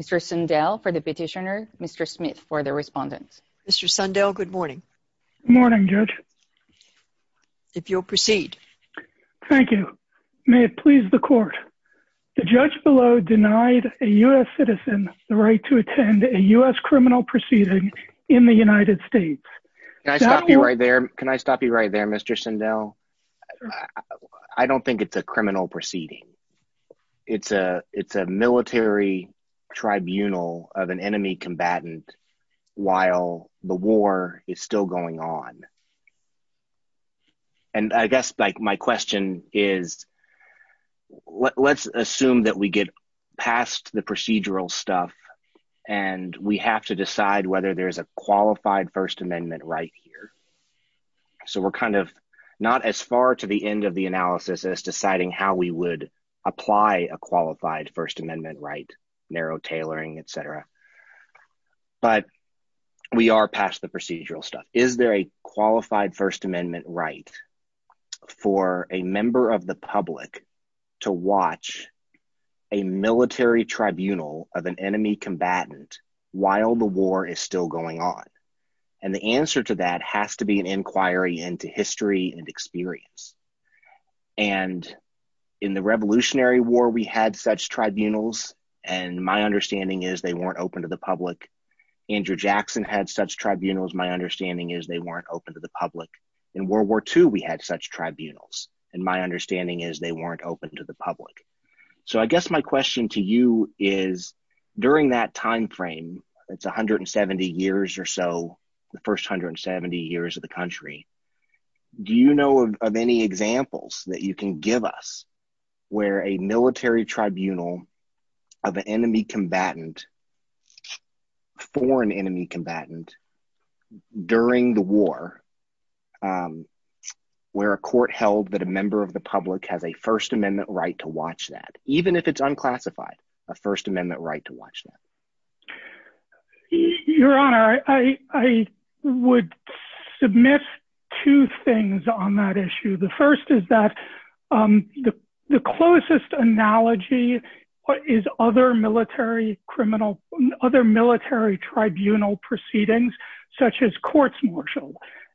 Mr. Sundel, for the Petitioner, Mr. Smith for the Respondent. Mr. Sundel, good morning. Good morning, Judge. If you'll proceed. Thank you. May it please the Court, The judge below denied a U.S. citizen the right to attend a U.S. criminal proceeding in the United States. Can I stop you right there? Can I stop you right there, Mr. Sundel? I don't think it's a criminal proceeding. It's a military tribunal of an enemy combatant while the war is still going on. And I guess my question is, let's assume that we get past the procedural stuff, and we have to decide whether there's a qualified First Amendment right here. So we're kind of not as far to the end of the analysis as deciding how we would apply a qualified First Amendment right, narrow tailoring, etc. But we are past the procedural stuff. Is there a qualified First Amendment right for a member of the public to watch a military tribunal of an enemy combatant while the war is still going on? And the answer to that has to be an inquiry into history and experience. And in the Revolutionary War, we had such tribunals. And my understanding is they weren't open to the public. Andrew Jackson had such tribunals. My understanding is they weren't open to the public. In World War II, we had such tribunals. And my understanding is they weren't open to the public. So I guess my question to you is, during that timeframe, it's 170 years or so, the first 170 years of the country. Do you know of any examples that you can give us where a military tribunal of an enemy combatant, foreign enemy combatant, during the war, where a court held that a member of the public has a First Amendment right to watch that, even if it's unclassified, a First Amendment right to watch that? Your Honor, I would submit two things on that issue. The first is that the closest analogy is other military tribunal proceedings, such as courts martial.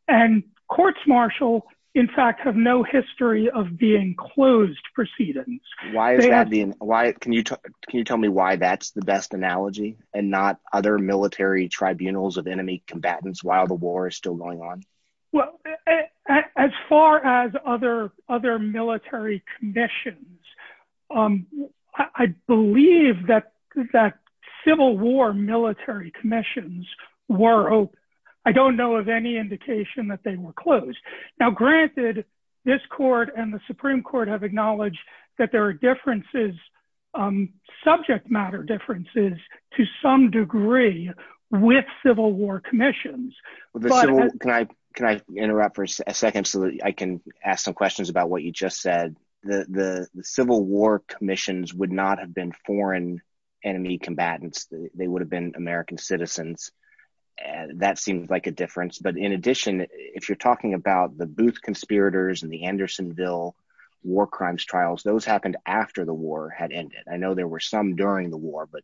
And courts martial, in fact, have no history of being closed proceedings. Can you tell me why that's the best analogy and not other military tribunals of enemy combatants while the war is still going on? Well, as far as other military commissions, I believe that Civil War military commissions were open. I don't know of any indication that they were closed. Now, granted, this court and the Supreme Court have acknowledged that there are differences, subject matter differences, to some degree, with Civil War commissions. Can I interrupt for a second so that I can ask some questions about what you just said? The Civil War commissions would not have been foreign enemy combatants. They would have been American citizens. That seems like a difference. But in addition, if you're talking about the Booth conspirators and the Andersonville war crimes trials, those happened after the war had ended. I know there were some during the war. But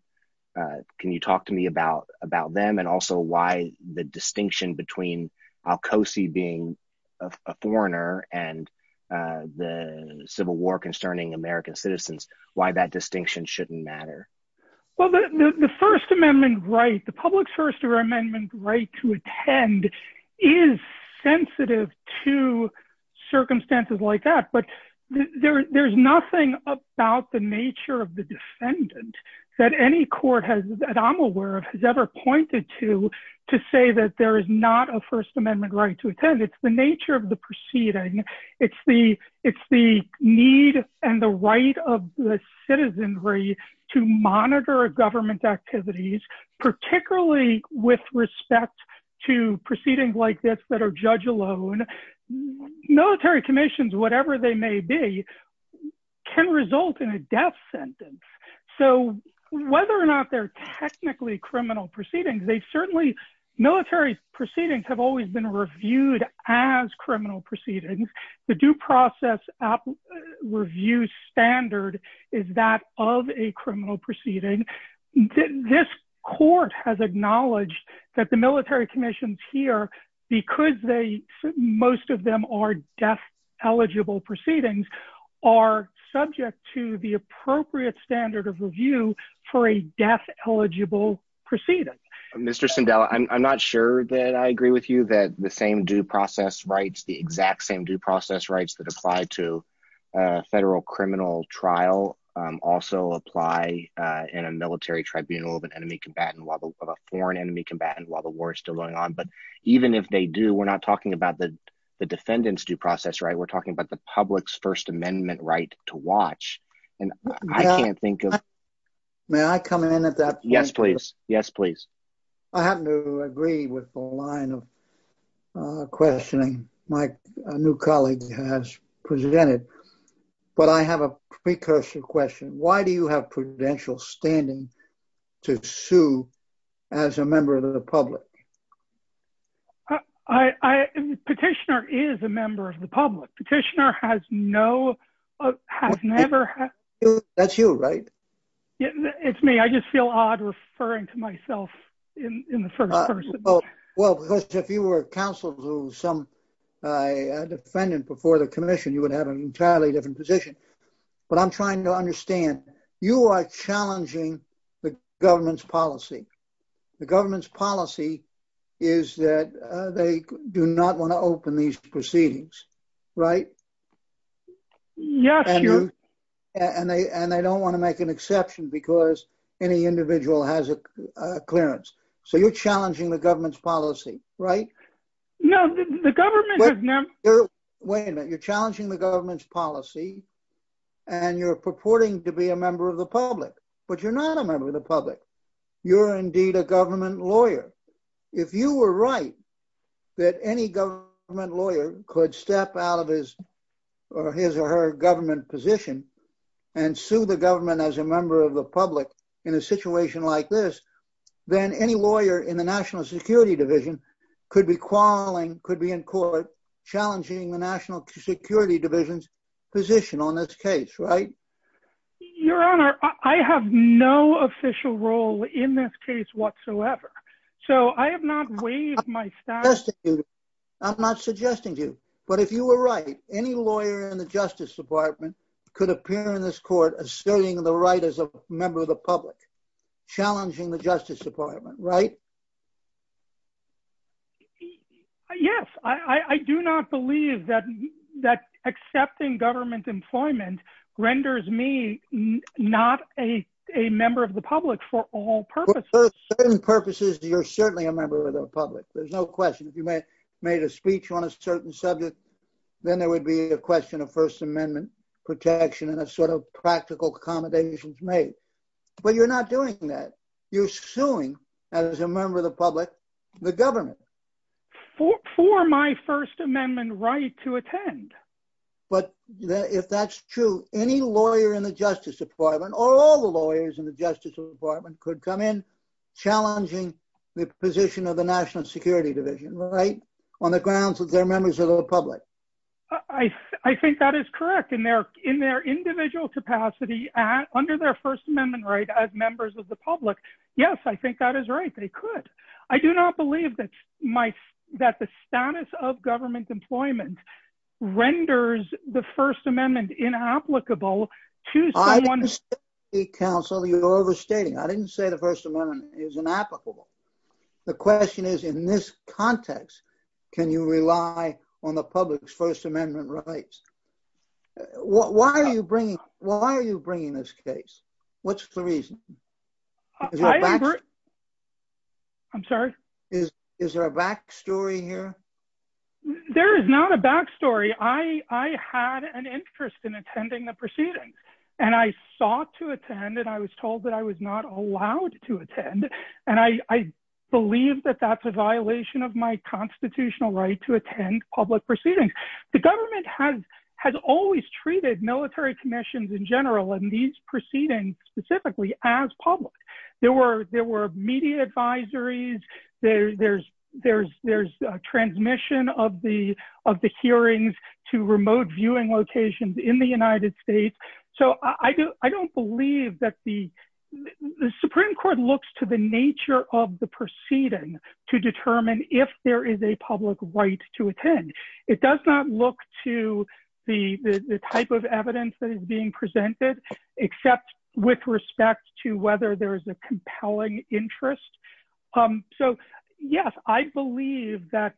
can you talk to me about them and also why the distinction between al-Qausi being a foreigner and the Civil War concerning American citizens, why that distinction shouldn't matter? Well, the First Amendment right, the public's First Amendment right to attend is sensitive to circumstances like that. But there's nothing about the nature of the defendant that any court that I'm aware of has ever pointed to to say that there is not a First Amendment right to attend. It's the nature of the proceeding. It's the need and the right of the citizenry to monitor government activities, particularly with respect to proceedings like this that are judge alone. Military commissions, whatever they may be, can result in a death sentence. So whether or not they're technically criminal proceedings, military proceedings have always been reviewed as criminal proceedings. The due process review standard is that of a criminal proceeding. This court has acknowledged that the military commissions here, because most of them are death eligible proceedings, are subject to the appropriate standard of review for a death eligible proceeding. Mr. Sindel, I'm not sure that I agree with you that the same due process rights, the exact same due process rights that apply to a federal criminal trial also apply in a military tribunal of an enemy combatant, of a foreign enemy combatant while the war is still going on. But even if they do, we're not talking about the defendant's due process, right? We're talking about the public's First Amendment right to watch. And I can't think of... May I come in at that point? Yes, please. Yes, please. I happen to agree with the line of questioning my new colleague has presented. But I have a precursor question. Why do you have prudential standing to sue as a member of the public? Petitioner is a member of the public. Petitioner has no, has never... That's you, right? It's me. I just feel odd referring to myself in the first person. Well, because if you were counsel to some defendant before the commission, you would have an entirely different position. But I'm trying to understand. You are challenging the government's policy. The government's policy is that they do not want to open these proceedings. Right? Yes. And they don't want to make an exception because any individual has a clearance. So you're challenging the government's policy, right? No, the government has never... Wait a minute. You're challenging the government's policy. And you're purporting to be a member of the public. But you're not a member of the public. You're indeed a government lawyer. If you were right that any government lawyer could step out of his or her government position and sue the government as a member of the public in a situation like this, then any lawyer in the National Security Division could be calling, could be in court, challenging the National Security Division's position on this case. Right? Your Honor, I have no official role in this case whatsoever. So I have not waived my status. I'm not suggesting to you. But if you were right, any lawyer in the Justice Department could appear in this court asserting the right as a member of the public, challenging the Justice Department. Right? Yes. I do not believe that accepting government employment renders me not a member of the public for all purposes. For certain purposes, you're certainly a member of the public. There's no question. If you made a speech on a certain subject, then there would be a question of First Amendment protection and a sort of practical accommodations made. But you're not doing that. You're suing, as a member of the public, the government. For my First Amendment right to attend. But if that's true, any lawyer in the Justice Department or all the lawyers in the Justice Department could come in challenging the position of the National Security Division. Right? On the grounds that they're members of the public. I think that is correct. In their individual capacity, under their First Amendment right as members of the public, yes, I think that is right. They could. I do not believe that the status of government employment renders the First Amendment inapplicable to someone. Counsel, you're overstating. I didn't say the First Amendment is inapplicable. The question is, in this context, can you rely on the public's First Amendment rights? Why are you bringing this case? What's the reason? I'm sorry? Is there a back story here? There is not a back story. I had an interest in attending the proceedings. And I sought to attend. And I was told that I was not allowed to attend. And I believe that that's a violation of my constitutional right to attend public proceedings. The government has always treated military commissions in general and these proceedings specifically as public. There were media advisories. There's transmission of the hearings to remote viewing locations in the United States. So I don't believe that the Supreme Court looks to the nature of the proceeding to determine if there is a public right to attend. It does not look to the type of evidence that is being presented, except with respect to whether there is a compelling interest. So, yes, I believe that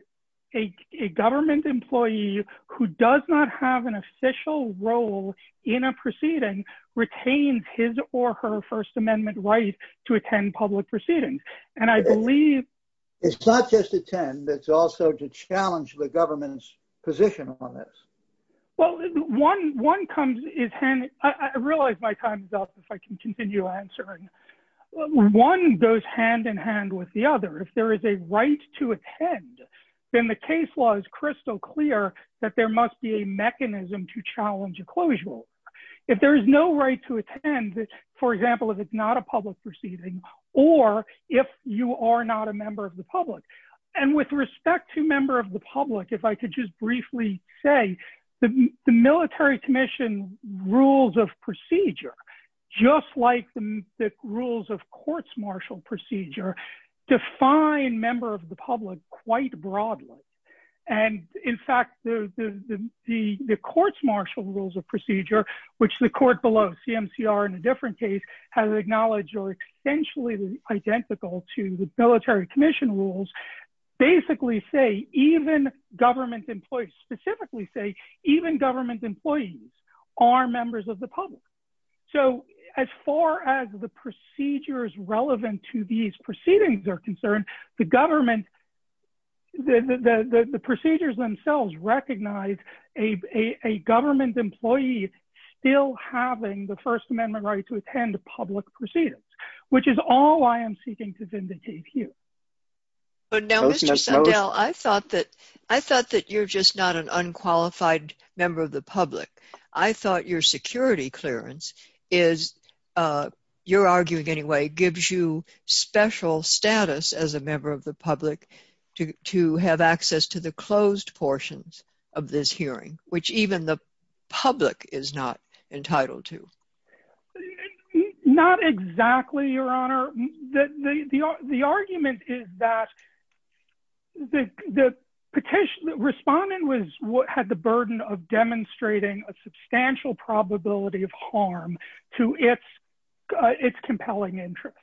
a government employee who does not have an official role in a proceeding retains his or her First Amendment right to attend public proceedings. And I believe — It's not just attend. It's also to challenge the government's position on this. Well, one comes — I realize my time is up, if I can continue answering. One goes hand in hand with the other. If there is a right to attend, then the case law is crystal clear that there must be a mechanism to challenge a closure. If there is no right to attend, for example, if it's not a public proceeding, or if you are not a member of the public. And with respect to member of the public, if I could just briefly say, the Military Commission rules of procedure, just like the rules of courts martial procedure, define member of the public quite broadly. And, in fact, the courts martial rules of procedure, which the court below, CMCR in a different case, has acknowledged are essentially identical to the Military Commission rules, basically say, even government employees, specifically say, even government employees are members of the public. So, as far as the procedures relevant to these proceedings are concerned, the government, the procedures themselves recognize a government employee still having the First Amendment right to attend public proceedings, which is all I am seeking to vindicate here. But now, Mr. Sundell, I thought that you're just not an unqualified member of the public. I thought your security clearance is, you're arguing anyway, gives you special status as a member of the public to have access to the closed portions of this hearing, which even the public is not entitled to. Not exactly, Your Honor. The argument is that the respondent had the burden of demonstrating a substantial probability of harm to its compelling interest.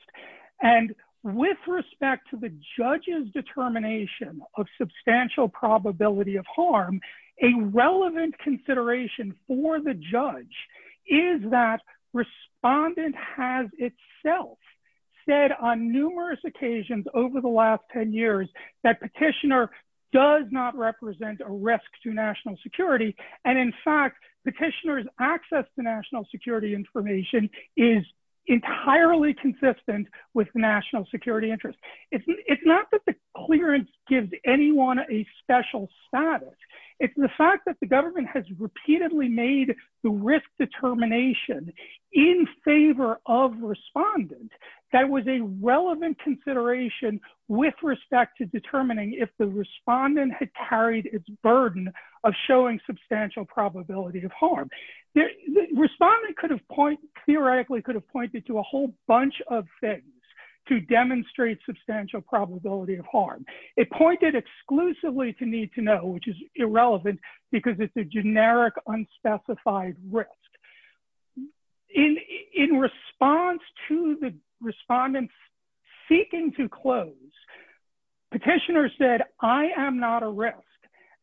And with respect to the judge's determination of substantial probability of harm, a relevant consideration for the judge is that respondent has itself said on numerous occasions over the last 10 years that petitioner does not represent a risk to national security. And in fact, petitioner's access to national security information is entirely consistent with national security interest. It's not that the clearance gives anyone a special status. It's the fact that the government has repeatedly made the risk determination in favor of respondent that was a relevant consideration with respect to determining if the respondent had carried its burden of showing substantial probability of harm. Respondent could have point, theoretically could have pointed to a whole bunch of things to demonstrate substantial probability of harm. It pointed exclusively to need to know, which is irrelevant because it's a generic unspecified risk. In response to the respondent's seeking to close, petitioner said, I am not a risk.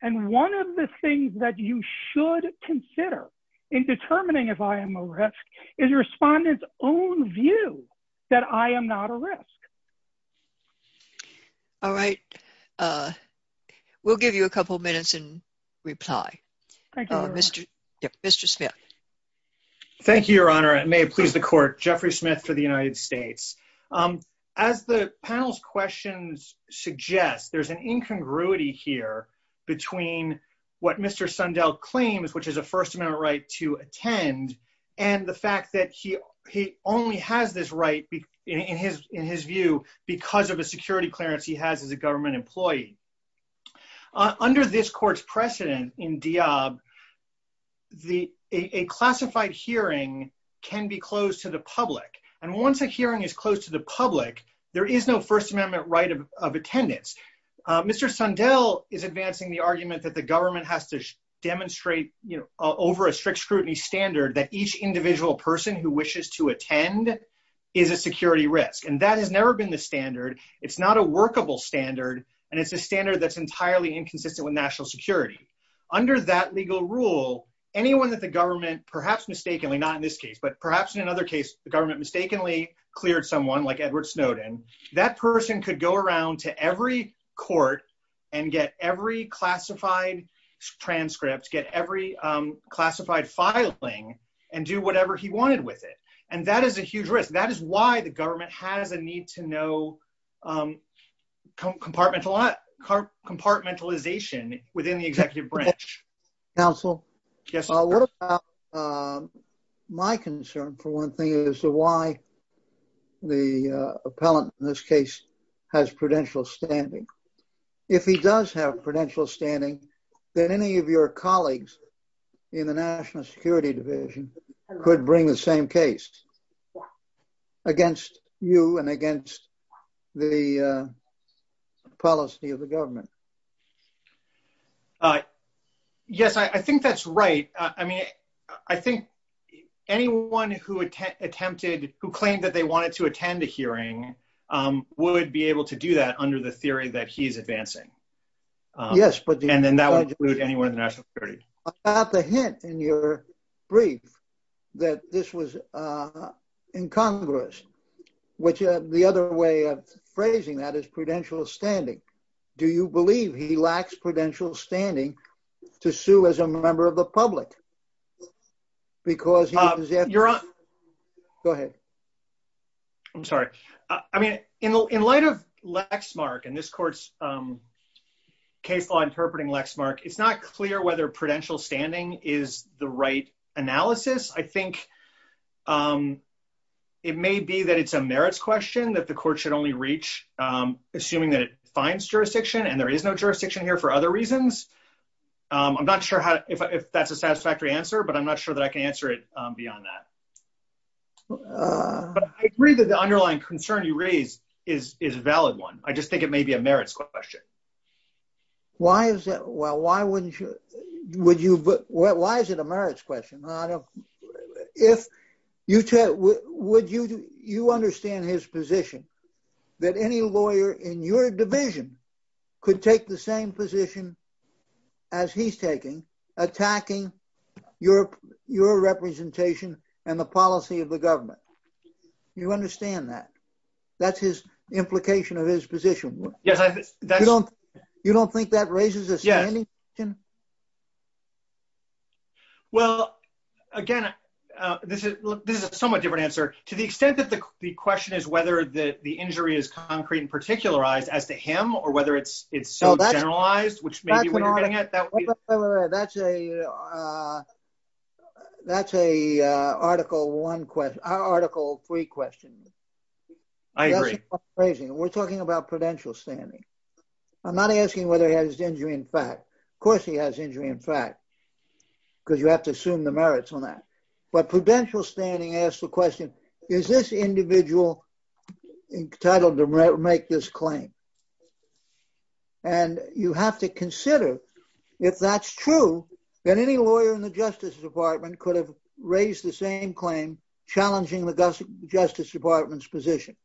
And one of the things that you should consider in determining if I am a risk is respondent's own view that I am not a risk. All right. We'll give you a couple minutes and reply. Mr. Smith. Thank you, Your Honor. It may please the court. Jeffrey Smith for the United States. As the panel's questions suggest, there's an incongruity here between what Mr. Sundell claims, which is a First Amendment right to attend, and the fact that he only has this right, in his view, because of a security clearance he has as a government employee. Under this court's precedent in Diab, a classified hearing can be closed to the public. And once a hearing is closed to the public, there is no First Amendment right of attendance. Mr. Sundell is advancing the argument that the government has to demonstrate, you know, over a strict scrutiny standard that each individual person who wishes to attend is a security risk. And that has never been the standard. It's not a workable standard, and it's a standard that's entirely inconsistent with national security. Under that legal rule, anyone that the government, perhaps mistakenly, not in this case, but perhaps in another case, the government mistakenly cleared someone like Edward Snowden, that person could go around to every court and get every classified transcript, get every classified filing, and do whatever he wanted with it. And that is a huge risk. That is why the government has a need to know compartmentalization within the executive branch. Thank you very much. Counsel. Yes. My concern for one thing is why the appellant in this case has prudential standing. If he does have prudential standing, then any of your colleagues in the National Security Division could bring the same case against you and against the policy of the government. Yes, I think that's right. I mean, I think anyone who attempted, who claimed that they wanted to attend a hearing would be able to do that under the theory that he's advancing. Yes. And then that would include anyone in the national security. I got the hint in your brief that this was incongruous, which the other way of phrasing that is prudential standing. Do you believe he lacks prudential standing to sue as a member of the public? Because he is- You're on. Go ahead. I'm sorry. I mean, in light of Lexmark and this court's case law interpreting Lexmark, it's not clear whether prudential standing is the right analysis. I think it may be that it's a merits question that the court should only reach, assuming that it finds jurisdiction and there is no jurisdiction here for other reasons. I'm not sure if that's a satisfactory answer, but I'm not sure that I can answer it beyond that. I agree that the underlying concern you raise is a valid one. I just think it may be a merits question. Why is that? Well, why wouldn't you- Why is it a merits question? Would you understand his position that any lawyer in your division could take the same position as he's taking, attacking your representation and the policy of the government? You understand that? That's his implication of his position. Yes. You don't think that raises a standing question? Yes. Well, again, this is a somewhat different answer. To the extent that the question is whether the injury is concrete and particularized as to him or whether it's so generalized, which may be what you're getting at, that would be- That's an article one question- article three question. I agree. We're talking about prudential standing. I'm not asking whether he has injury in fact. Of course he has injury in fact. Because you have to assume the merits on that. But prudential standing asks the question, is this individual entitled to make this claim? And you have to consider if that's true, then any lawyer in the Justice Department could have raised the same claim, challenging the Justice Department's position.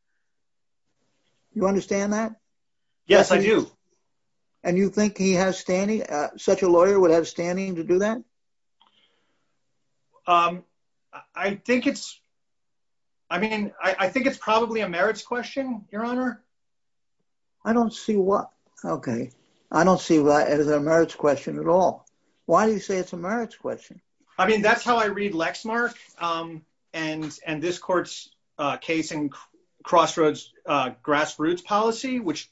You understand that? Yes, I do. And you think he has standing? Such a lawyer would have standing to do that? I think it's- I mean, I think it's probably a merits question, Your Honor. I don't see what- okay. I don't see that as a merits question at all. Why do you say it's a merits question? I mean, that's how I read Lexmark and this court's case in Crossroads grassroots policy, which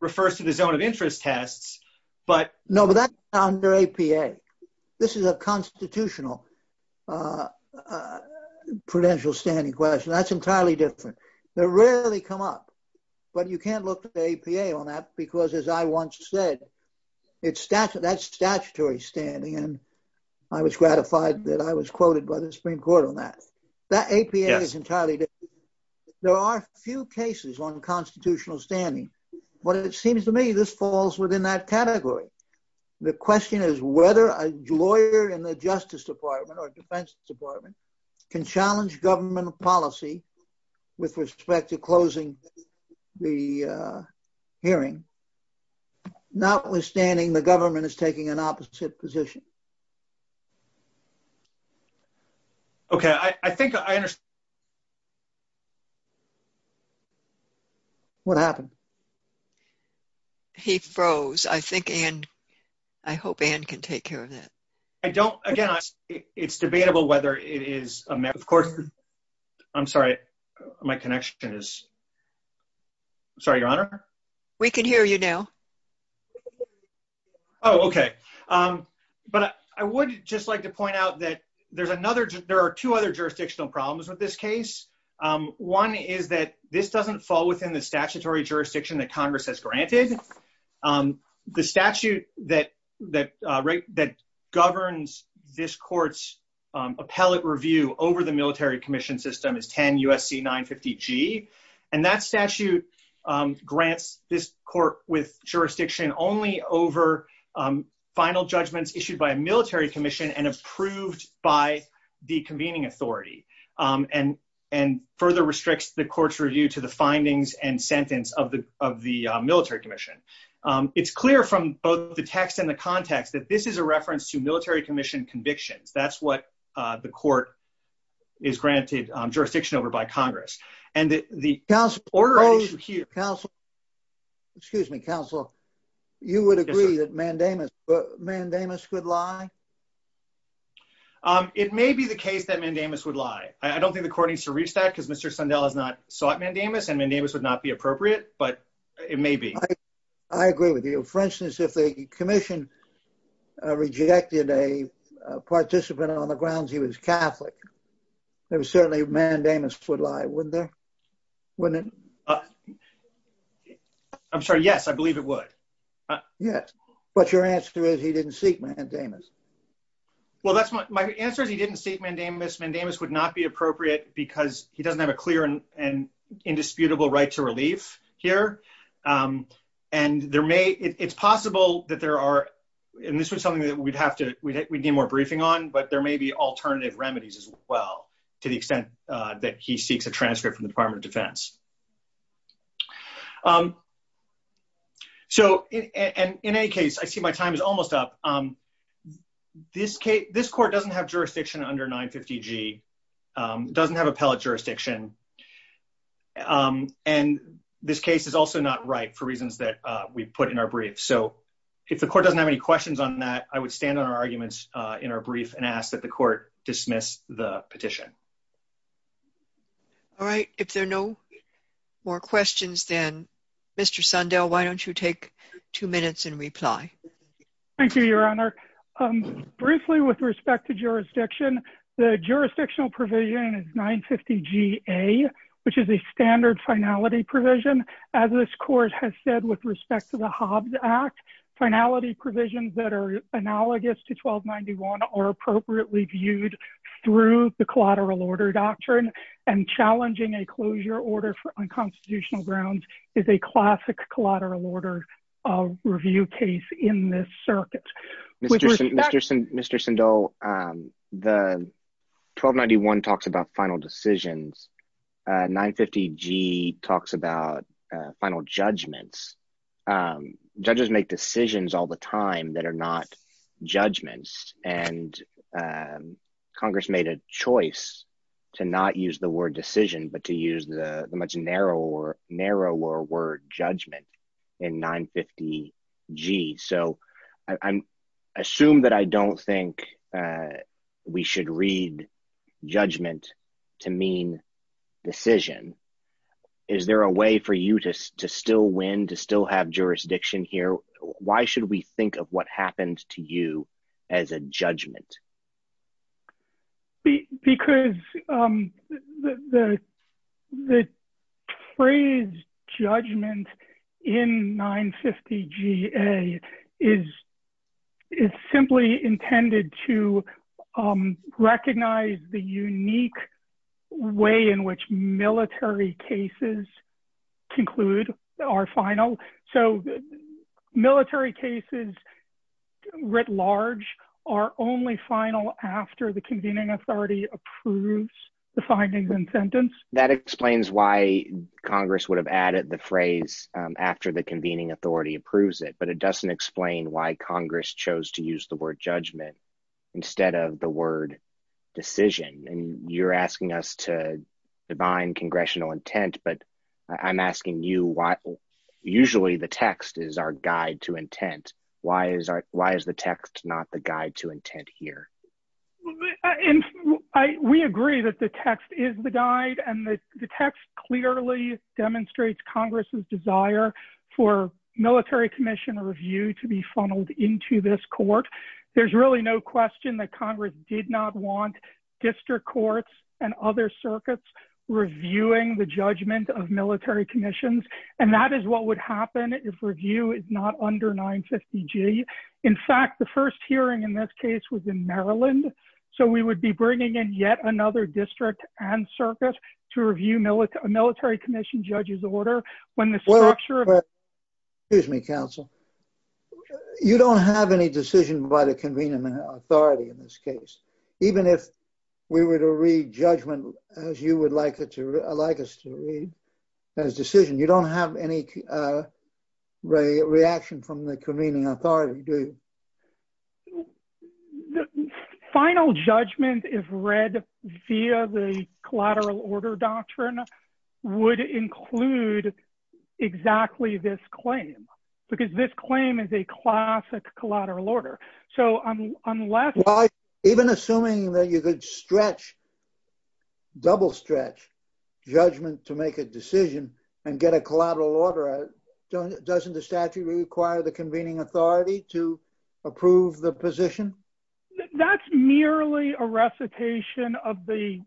refers to the zone of interest tests, but- No, but that's under APA. This is a constitutional prudential standing question. That's entirely different. They rarely come up. But you can't look at APA on that because, as I once said, that's statutory standing. And I was gratified that I was quoted by the Supreme Court on that. That APA is entirely different. There are few cases on constitutional standing. But it seems to me this falls within that category. The question is whether a lawyer in the Justice Department or Defense Department can challenge government policy with respect to closing the hearing, notwithstanding the government is taking an opposite position. Okay. I think I understand. What happened? He froze. I think Ann, I hope Ann can take care of that. I don't, again, it's debatable whether it is a merits question. Of course. I'm sorry. My connection is. Sorry, Your Honor. We can hear you now. Oh, okay. But I would just like to point out that there's another, there are two other jurisdictional problems with this case. One is that this doesn't fall within the statutory jurisdiction that Congress has granted. The statute that governs this court's appellate review over the military commission system is 10 U.S.C. 950G. And that statute grants this court with jurisdiction only over final judgments issued by a military commission and approved by the convening authority. And further restricts the court's review to the findings and sentence of the military commission. It's clear from both the text and the context that this is a reference to military commission convictions. That's what the court is granted jurisdiction over by Congress. And the order issue here. Excuse me, counsel. You would agree that Mandamus could lie? It may be the case that Mandamus would lie. I don't think the court needs to reach that because Mr. Sundell has not sought Mandamus and Mandamus would not be appropriate, but it may be. I agree with you. For instance, if the commission rejected a participant on the grounds he was Catholic, there was certainly Mandamus would lie, wouldn't there? Wouldn't it? I'm sorry. Yes, I believe it would. Yes. But your answer is he didn't seek Mandamus. Well, that's my answer is he didn't seek Mandamus. Mandamus would not be appropriate because he doesn't have a clear and indisputable right to relief here. And there may, it's possible that there are, and this was something that we'd have to, we need more briefing on, but there may be alternative remedies as well, to the extent that he seeks a transcript from the Department of Defense. So, and in any case, I see my time is almost up. This case, this court doesn't have jurisdiction under 950G, doesn't have appellate jurisdiction. And this case is also not right for reasons that we put in our brief. So if the court doesn't have any questions on that, I would stand on our arguments in our brief and ask that the court dismiss the petition. All right. If there are no more questions, then, Mr. Sundell, why don't you take two minutes and reply? Thank you, Your Honor. Briefly, with respect to jurisdiction, the jurisdictional provision is 950G-A, which is a standard finality provision. As this court has said with respect to the Hobbs Act, finality provisions that are analogous to 1291 are appropriately viewed through the collateral order doctrine. And challenging a closure order on constitutional grounds is a classic collateral order review case in this circuit. Mr. Sundell, the 1291 talks about final decisions. 950G talks about final judgments. Judges make decisions all the time that are not judgments. And Congress made a choice to not use the word decision, but to use the much narrower word judgment in 950G. So I assume that I don't think we should read judgment to mean decision. Is there a way for you to still win, to still have jurisdiction here? Why should we think of what happened to you as a judgment? Because the phrase judgment in 950G-A is simply intended to recognize the unique way in which military cases conclude our final. So military cases writ large are only final after the convening authority approves the findings and sentence. That explains why Congress would have added the phrase after the convening authority approves it. But it doesn't explain why Congress chose to use the word judgment instead of the word decision. And you're asking us to define congressional intent. But I'm asking you, usually the text is our guide to intent. Why is the text not the guide to intent here? We agree that the text is the guide. And the text clearly demonstrates Congress's desire for military commission review to be funneled into this court. There's really no question that Congress did not want district courts and other circuits reviewing the judgment of military commissions. And that is what would happen if review is not under 950G. In fact, the first hearing in this case was in Maryland. So we would be bringing in yet another district and circuit to review a military commission judge's order. Excuse me, counsel. You don't have any decision by the convening authority in this case. Even if we were to read judgment as you would like us to read as decision, you don't have any reaction from the convening authority, do you? The final judgment is read via the collateral order doctrine would include exactly this claim. Because this claim is a classic collateral order. Even assuming that you could stretch, double stretch judgment to make a decision and get a collateral order, doesn't the statute require the convening authority to approve the position? That's merely a recitation of the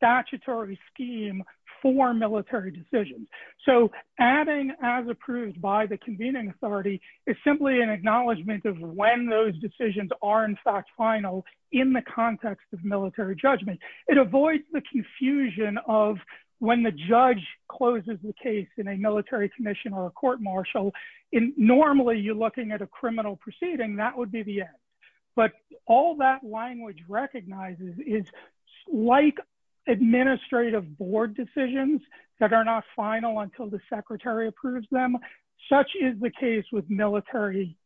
statutory scheme for military decisions. So adding as approved by the convening authority is simply an acknowledgment of when those decisions are in fact final in the context of military judgment. It avoids the confusion of when the judge closes the case in a military commission or a court martial. Normally you're looking at a criminal proceeding. That would be the end. But all that language recognizes is like administrative board decisions that are not final until the secretary approves them. Such is the case with military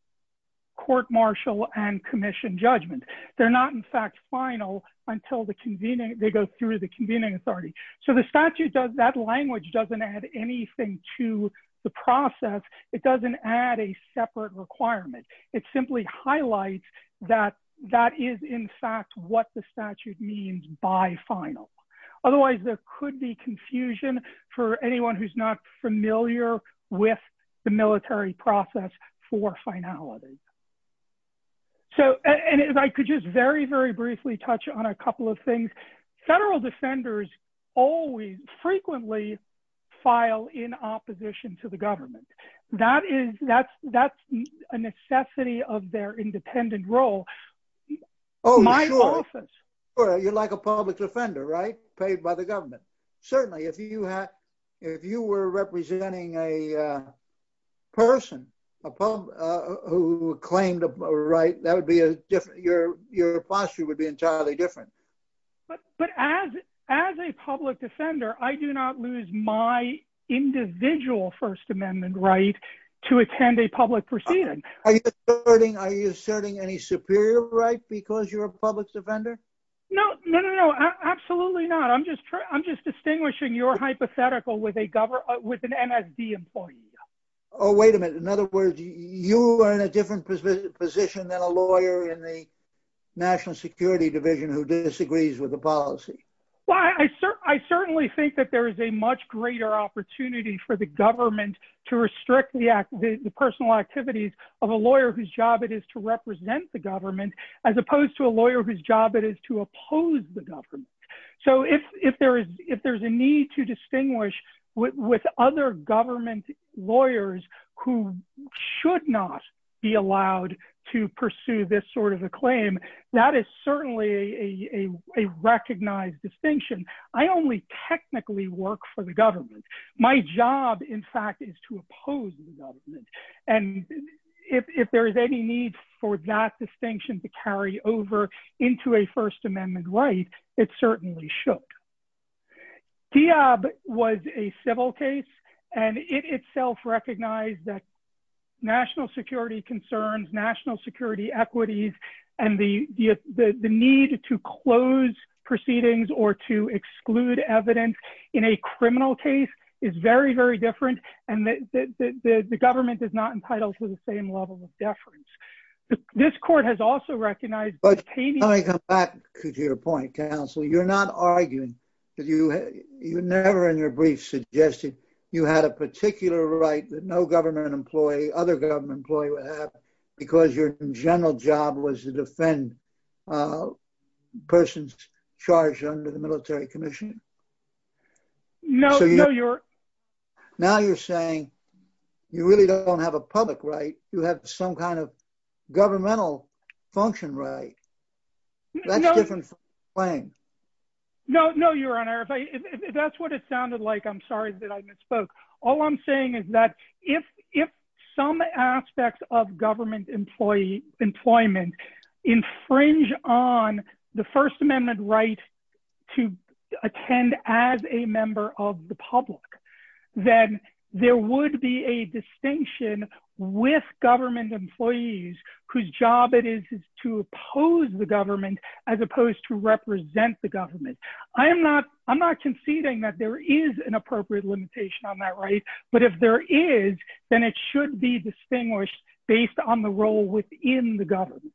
court martial and commission judgment. They're not in fact final until they go through the convening authority. So the statute, that language doesn't add anything to the process. It doesn't add a separate requirement. It simply highlights that that is in fact what the statute means by final. Otherwise there could be confusion for anyone who's not familiar with the military process for finalities. So I could just very, very briefly touch on a couple of things. Federal defenders always frequently file in opposition to the government. That's a necessity of their independent role. My office. You're like a public defender, right? Paid by the government. Certainly, if you were representing a person who claimed a right, your posture would be entirely different. But as a public defender, I do not lose my individual First Amendment right to attend a public proceeding. Are you asserting any superior right because you're a public defender? No, no, no, no, absolutely not. I'm just distinguishing your hypothetical with an MSD employee. Oh, wait a minute. In other words, you are in a different position than a lawyer in the National Security Division who disagrees with the policy. Well, I certainly think that there is a much greater opportunity for the government to restrict the personal activities of a lawyer whose job it is to represent the government, as opposed to a lawyer whose job it is to oppose the government. So if there's a need to distinguish with other government lawyers who should not be allowed to pursue this sort of a claim, that is certainly a recognized distinction. I only technically work for the government. My job, in fact, is to oppose the government. And if there is any need for that distinction to carry over into a First Amendment right, it certainly should. Diab was a civil case, and it itself recognized that national security concerns, national security equities, and the need to close proceedings or to exclude evidence in a criminal case is very, very different. And the government is not entitled to the same level of deference. This court has also recognized... But let me come back to your point, counsel. You're not arguing that you never in your brief suggested you had a particular right that no government employee, other government employee, would have because your general job was to defend persons charged under the military commission? No, no, you're... Governmental function right. That's a different claim. No, no, Your Honor. If that's what it sounded like, I'm sorry that I misspoke. All I'm saying is that if some aspects of government employment infringe on the First Amendment right to attend as a member of the public, then there would be a distinction with government employees whose job it is to oppose the government as opposed to represent the government. I'm not conceding that there is an appropriate limitation on that right, but if there is, then it should be distinguished based on the role within the government.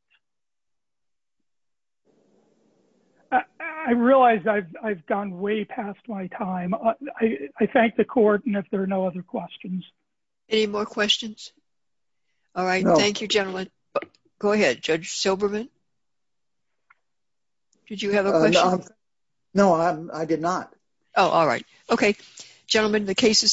I realize I've gone way past my time. I thank the court, and if there are no other questions... Any more questions? All right. Thank you, gentlemen. Go ahead, Judge Silberman. Did you have a question? No, I did not. Oh, all right. Okay, gentlemen, the case is submitted.